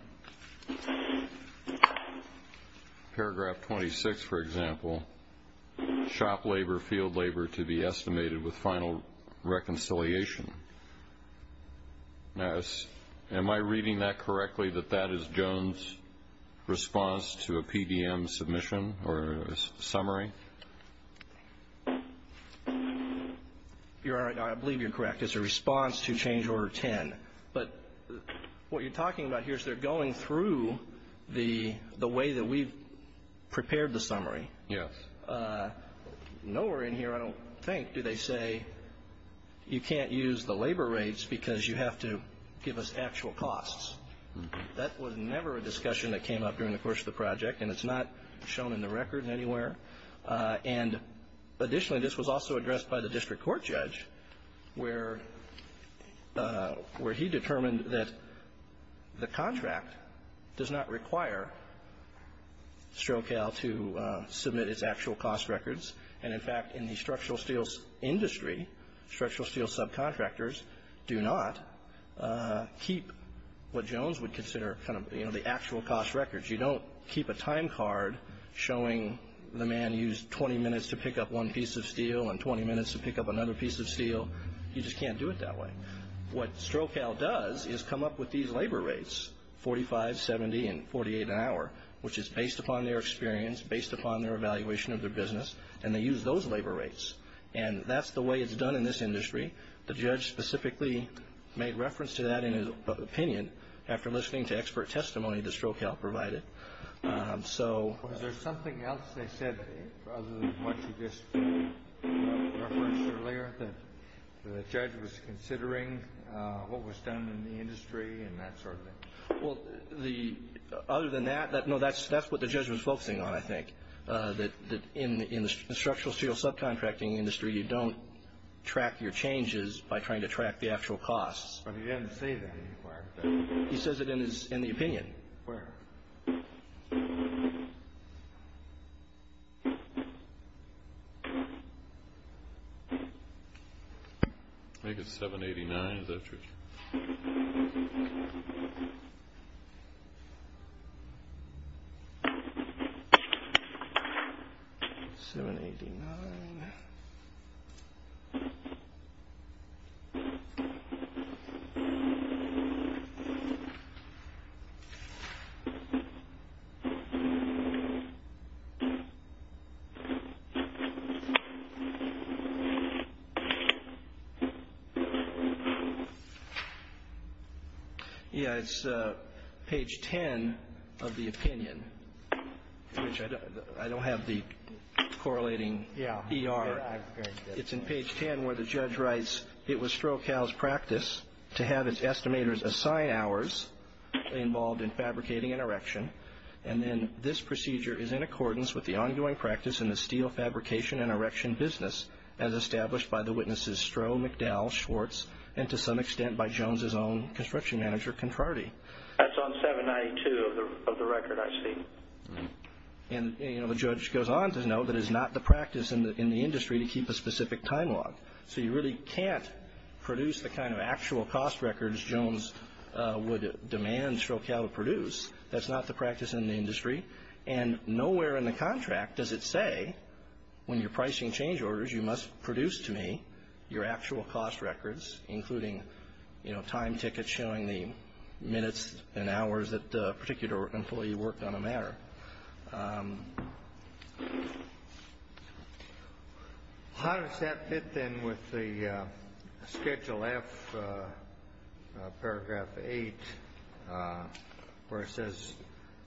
paragraph 26, for example, shop labor, field labor to be estimated with final reconciliation. Now, am I reading that correctly, that that is Jones's response to a PDM submission or a summary? Your Honor, I believe you're correct. It's a response to Change Order 10. But what you're talking about here is they're going through the way that we've prepared the summary. Yes. Nowhere in here, I don't think, do they say you can't use the labor rates because you have to give us actual costs. That was never a discussion that came up during the course of the project, and it's not shown in the record anywhere. And additionally, this was also addressed by the district court judge, where he determined that the contract does not require StroCal to submit its actual cost records. And in fact, in the structural steel industry, structural steel subcontractors do not keep what Jones would consider kind of, you know, the actual cost records. You don't keep a time card showing the man used 20 minutes to pick up one piece of steel and 20 minutes to pick up another piece of steel. You just can't do it that way. What StroCal does is come up with these labor rates, 45, 70, and 48 an hour, which is based upon their experience, based upon their evaluation of their business, and they use those labor rates. And that's the way it's done in this industry. The judge specifically made reference to that in his opinion after listening to expert testimony that StroCal provided. Was there something else they said other than what you just referenced earlier, that the judge was considering what was done in the industry and that sort of thing? Well, other than that, no, that's what the judge was focusing on, I think, that in the structural steel subcontracting industry, you don't track your changes by trying to track the actual costs. But he didn't say that anywhere. He says it in the opinion. Where? I think it's 789. Is that true? 789. Okay. It's in page 10 where the judge writes, it was StroCal's practice to have its estimators assign hours involved in fabricating and erection, and then this procedure is in accordance with the ongoing practice in the steel fabrication and erection business, as established by the witnesses Stro, McDowell, Schwartz, and to some extent by Jones's own construction manager, Contrardi. That's on 792 of the record, I see. And, you know, the judge goes on to note that it's not the practice in the industry to keep a specific time log. So you really can't produce the kind of actual cost records Jones would demand StroCal to produce. That's not the practice in the industry. And nowhere in the contract does it say, when you're pricing change orders, you must produce to me your actual cost records, including, you know, time tickets showing the minutes and hours that a particular employee worked on a matter. How does that fit, then, with the Schedule F, paragraph 8, where it says,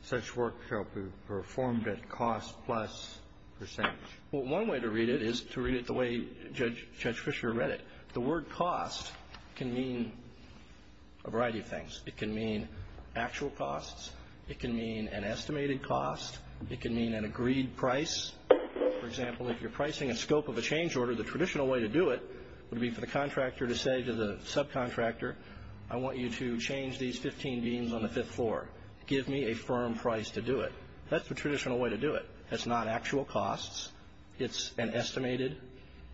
such work shall be performed at cost plus percentage? Well, one way to read it is to read it the way Judge Fischer read it. The word cost can mean a variety of things. It can mean actual costs. It can mean an estimated cost. It can mean an agreed price. For example, if you're pricing a scope of a change order, the traditional way to do it would be for the contractor to say to the subcontractor, I want you to change these 15 beams on the fifth floor. Give me a firm price to do it. That's the traditional way to do it. That's not actual costs. It's an estimated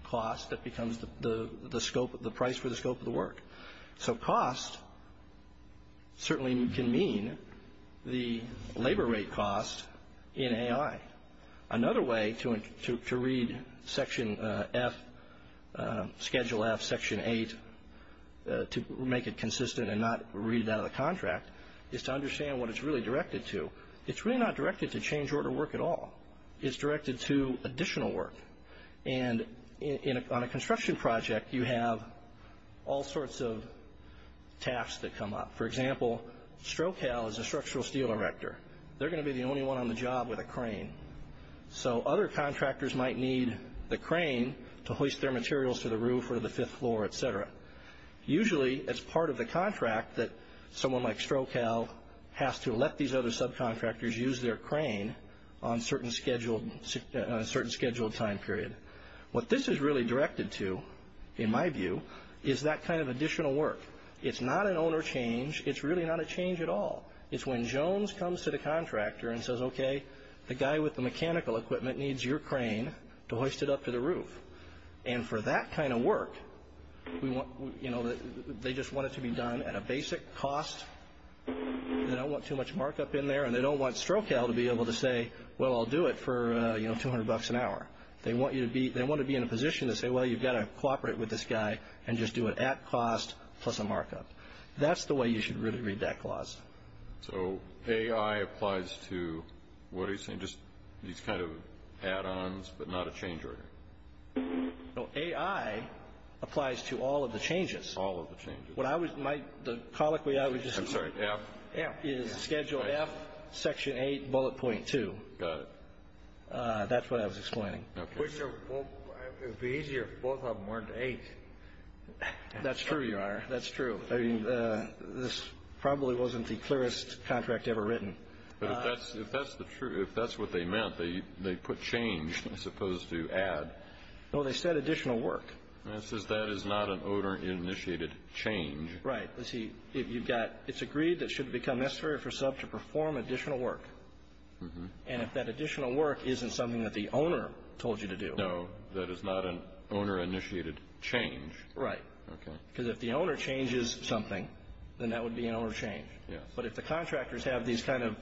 cost that becomes the price for the scope of the work. So cost certainly can mean the labor rate cost in AI. Another way to read Schedule F, section 8, to make it consistent and not read it out of the contract, is to understand what it's really directed to. It's really not directed to change order work at all. It's directed to additional work. And on a construction project, you have all sorts of tasks that come up. For example, Strocal is a structural steel erector. They're going to be the only one on the job with a crane. So other contractors might need the crane to hoist their materials to the roof or the fifth floor, et cetera. Usually, it's part of the contract that someone like Strocal has to let these other subcontractors use their crane on a certain scheduled time period. What this is really directed to, in my view, is that kind of additional work. It's not an owner change. It's really not a change at all. It's when Jones comes to the contractor and says, okay, the guy with the mechanical equipment needs your crane to hoist it up to the roof. And for that kind of work, they just want it to be done at a basic cost. They don't want too much markup in there, and they don't want Strocal to be able to say, well, I'll do it for $200 an hour. They want to be in a position to say, well, you've got to cooperate with this guy and just do it at cost plus a markup. That's the way you should really read that clause. So AI applies to what are you saying, just these kind of add-ons but not a change order? AI applies to all of the changes. All of the changes. The colloquy I would just insert is schedule F, section 8, bullet point 2. Got it. That's what I was explaining. It would be easier if both of them weren't 8. That's true, Your Honor. That's true. This probably wasn't the clearest contract ever written. But if that's the truth, if that's what they meant, they put change as opposed to add. No, they said additional work. It says that is not an owner-initiated change. Right. You see, it's agreed that it should become necessary for a sub to perform additional work. And if that additional work isn't something that the owner told you to do. No, that is not an owner-initiated change. Right. Because if the owner changes something, then that would be an owner change. But if the contractors have these kind of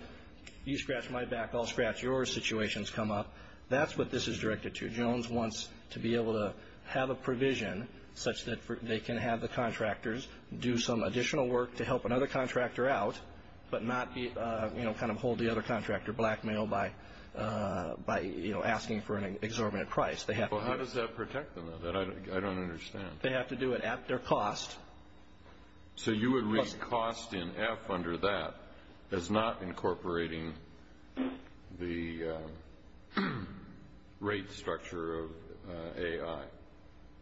you scratch my back, I'll scratch yours situations come up, that's what this is directed to. Mr. Jones wants to be able to have a provision such that they can have the contractors do some additional work to help another contractor out but not kind of hold the other contractor blackmailed by asking for an exorbitant price. How does that protect them? I don't understand. They have to do it at their cost. So you would read cost in F under that as not incorporating the rate structure of AI?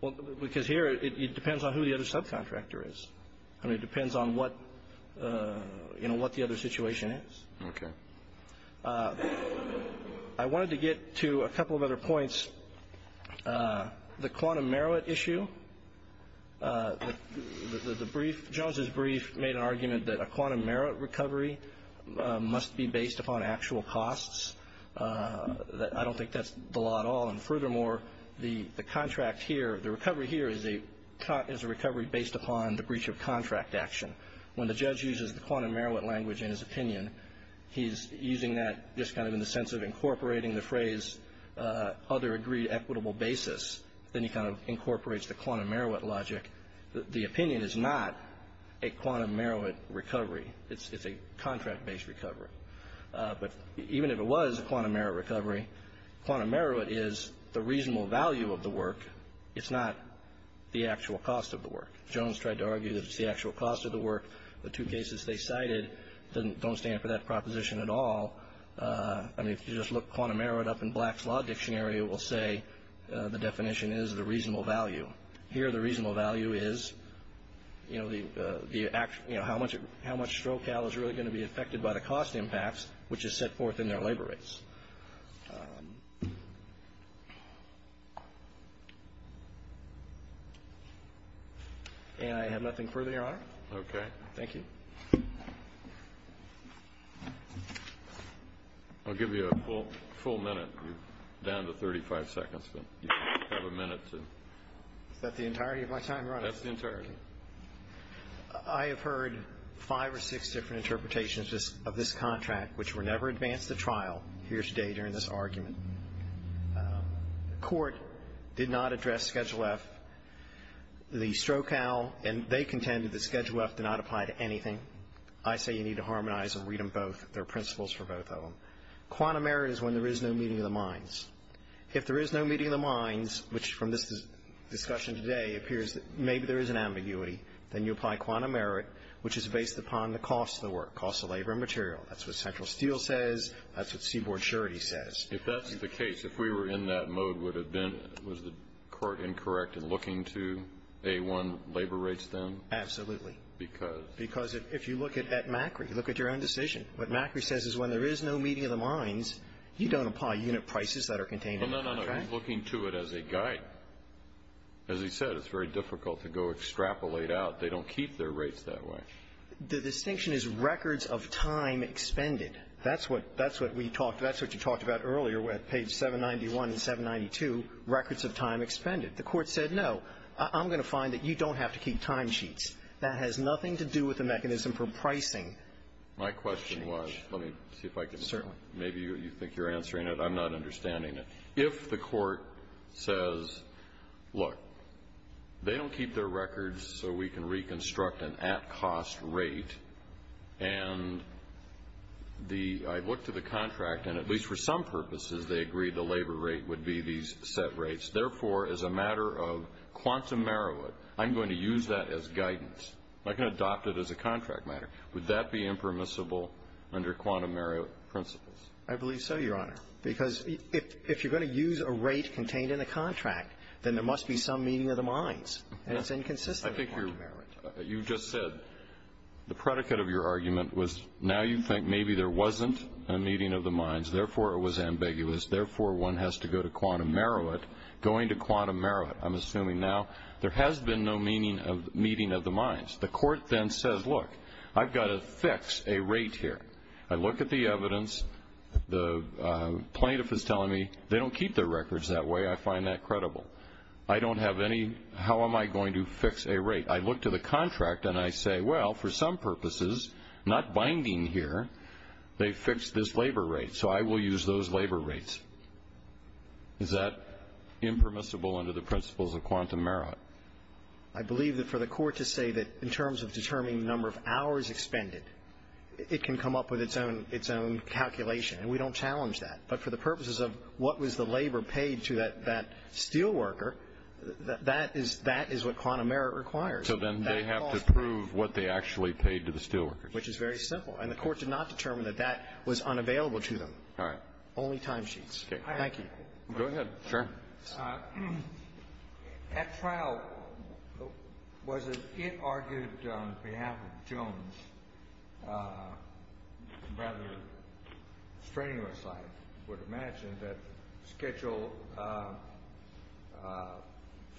Well, because here it depends on who the other subcontractor is. I mean, it depends on what the other situation is. Okay. I wanted to get to a couple of other points. The quantum merit issue. The brief, Jones's brief made an argument that a quantum merit recovery must be based upon actual costs. I don't think that's the law at all. And furthermore, the contract here, the recovery here is a recovery based upon the breach of contract action. When the judge uses the quantum merit language in his opinion, he's using that just kind of in the sense of incorporating the phrase other agreed equitable basis. Then he kind of incorporates the quantum merit logic. The opinion is not a quantum merit recovery. It's a contract-based recovery. But even if it was a quantum merit recovery, quantum merit is the reasonable value of the work. It's not the actual cost of the work. Jones tried to argue that it's the actual cost of the work. The two cases they cited don't stand for that proposition at all. I mean, if you just look quantum merit up in Black's Law Dictionary, it will say the definition is the reasonable value. Here the reasonable value is, you know, the actual, you know, how much strokeal is really going to be affected by the cost impacts, which is set forth in their labor rates. And I have nothing further, Your Honor. Okay. Thank you. I'll give you a full minute. You're down to 35 seconds, but you have a minute to. Is that the entirety of my time, Your Honor? That's the entirety. I have heard five or six different interpretations of this contract, which were never advanced at trial here today during this argument. The court did not address Schedule F. The strokeal, and they contended that Schedule F did not apply to anything. I say you need to harmonize and read them both. There are principles for both of them. Quantum merit is when there is no meeting of the minds. If there is no meeting of the minds, which from this discussion today appears that maybe there is an ambiguity, then you apply quantum merit, which is based upon the cost of the work, cost of labor and material. That's what Central Steel says. That's what Seaboard Surety says. If that's the case, if we were in that mode, would have been the court incorrect in looking to A1 labor rates then? Absolutely. Because? Because if you look at Macri, look at your own decision. What Macri says is when there is no meeting of the minds, you don't apply unit prices that are contained in the contract. No, no, no. He's looking to it as a guide. As he said, it's very difficult to go extrapolate out. They don't keep their rates that way. The distinction is records of time expended. That's what we talked to. That's what you talked about earlier at page 791 and 792, records of time expended. The Court said, no, I'm going to find that you don't have to keep timesheets. That has nothing to do with the mechanism for pricing. My question was, let me see if I can. Certainly. Maybe you think you're answering it. I'm not understanding it. If the court says, look, they don't keep their records so we can reconstruct an at-cost rate, and I looked at the contract, and at least for some purposes they agreed the labor rate would be these set rates. Therefore, as a matter of quantum merit, I'm going to use that as guidance. I can adopt it as a contract matter. Would that be impermissible under quantum merit principles? I believe so, Your Honor, because if you're going to use a rate contained in a contract, then there must be some meaning of the mines. And it's inconsistent with quantum merit. You just said the predicate of your argument was now you think maybe there wasn't a meeting of the mines, therefore it was ambiguous, therefore one has to go to quantum merit. Going to quantum merit, I'm assuming now, there has been no meaning of meeting of the mines. The court then says, look, I've got to fix a rate here. I look at the evidence. The plaintiff is telling me they don't keep their records that way. I find that credible. I don't have any how am I going to fix a rate. I look to the contract and I say, well, for some purposes, not binding here, they fixed this labor rate, so I will use those labor rates. Is that impermissible under the principles of quantum merit? I believe that for the court to say that in terms of determining the number of hours expended, it can come up with its own calculation. And we don't challenge that. But for the purposes of what was the labor paid to that steelworker, that is what quantum merit requires. So then they have to prove what they actually paid to the steelworker. Which is very simple. And the court did not determine that that was unavailable to them. All right. Only timesheets. Thank you. Go ahead. Sure. At trial, was it argued on behalf of Jones rather strenuous, I would imagine, that Schedule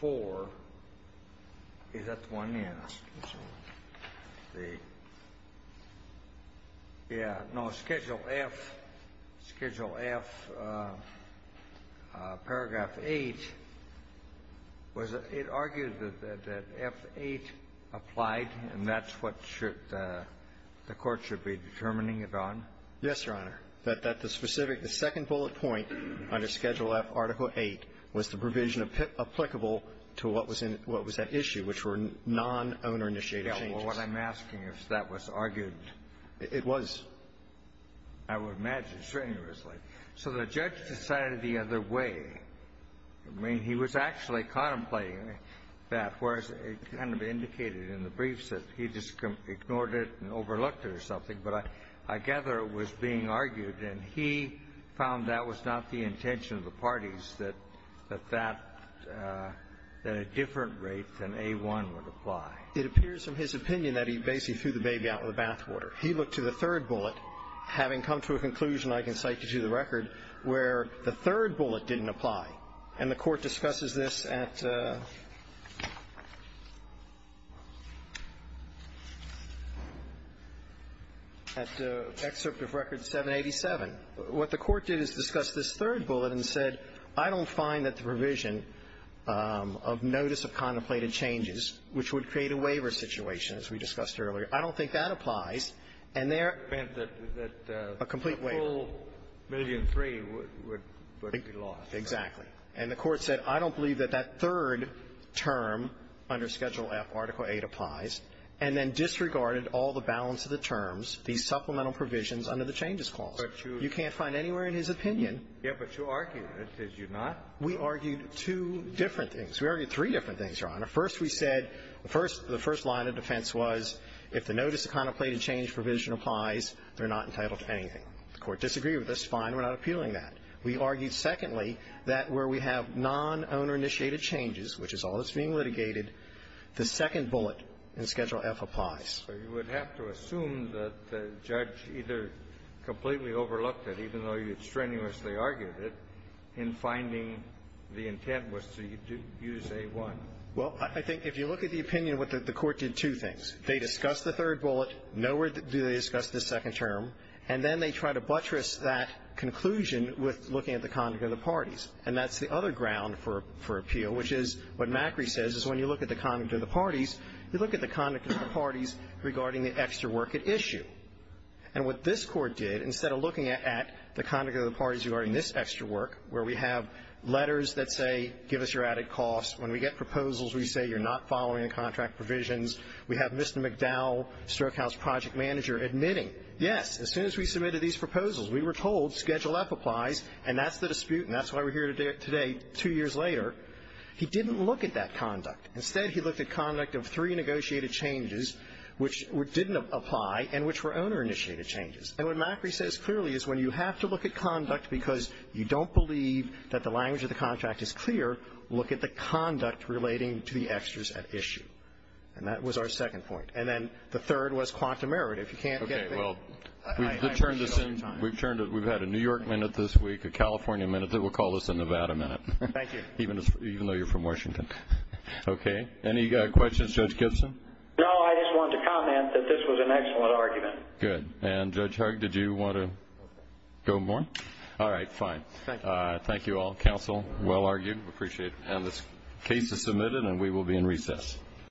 IV, is that the one? Yes. Yeah. No. Schedule F, Schedule F, paragraph 8, was it argued that F8 applied and that's what should the court should be determining it on? Yes, Your Honor. That the specific, the second bullet point under Schedule F, Article 8, was the provision applicable to what was that issue, which were non-owner-initiated changes. Yeah. Well, what I'm asking is if that was argued. It was. I would imagine strenuously. So the judge decided the other way. I mean, he was actually contemplating that, whereas it kind of indicated in the briefs that he just ignored it and overlooked it or something. But I gather it was being argued. And he found that was not the intention of the parties, that that, that a different rate than A1 would apply. It appears in his opinion that he basically threw the baby out in the bathwater. He looked to the third bullet, having come to a conclusion, I can cite to you the record, where the third bullet didn't apply. And the Court discusses this at Excerpt of Record 787. What the Court did is discuss this third bullet and said, I don't find that the provision of notice of contemplated changes, which would create a waiver situation, as we discussed earlier, I don't think that applies. And there a complete waiver. The whole million three would be lost, right? Exactly. And the Court said, I don't believe that that third term under Schedule F, Article 8, applies, and then disregarded all the balance of the terms, the supplemental provisions under the changes clause. You can't find anywhere in his opinion. Yes, but you argued it. Did you not? We argued two different things. We argued three different things, Your Honor. First, we said the first line of defense was if the notice of contemplated change provision applies, they're not entitled to anything. The Court disagreed with this. Fine. We're not appealing that. We argued, secondly, that where we have non-owner-initiated changes, which is all that's being litigated, the second bullet in Schedule F applies. But you would have to assume that the judge either completely overlooked it, even though you strenuously argued it, in finding the intent was to use A-1. Well, I think if you look at the opinion, what the Court did, two things. They discussed the third bullet, nowhere do they discuss the second term, and then they try to buttress that conclusion with looking at the conduct of the parties. And that's the other ground for appeal, which is what Macri says is when you look at the conduct of the parties, you look at the conduct of the parties regarding the extra work at issue. And what this Court did, instead of looking at the conduct of the parties regarding this extra work, where we have letters that say give us your added costs, when we get the contract provisions, we have Mr. McDowell, Stroke House project manager, admitting, yes, as soon as we submitted these proposals, we were told Schedule F applies, and that's the dispute, and that's why we're here today, two years later. He didn't look at that conduct. Instead, he looked at conduct of three negotiated changes which didn't apply and which were owner-initiated changes. And what Macri says clearly is when you have to look at conduct because you don't believe that the language of the contract is clear, look at the conduct relating to the extras at issue. And that was our second point. And then the third was quantum merit. If you can't get it, I appreciate all your time. We've had a New York minute this week, a California minute. We'll call this a Nevada minute. Thank you. Even though you're from Washington. Okay. Any questions, Judge Gibson? No, I just wanted to comment that this was an excellent argument. Good. And, Judge Hugg, did you want to go more? All right, fine. Thank you. Thank you all. Counsel, well argued. Appreciate it. And this case is submitted and we will be in recess.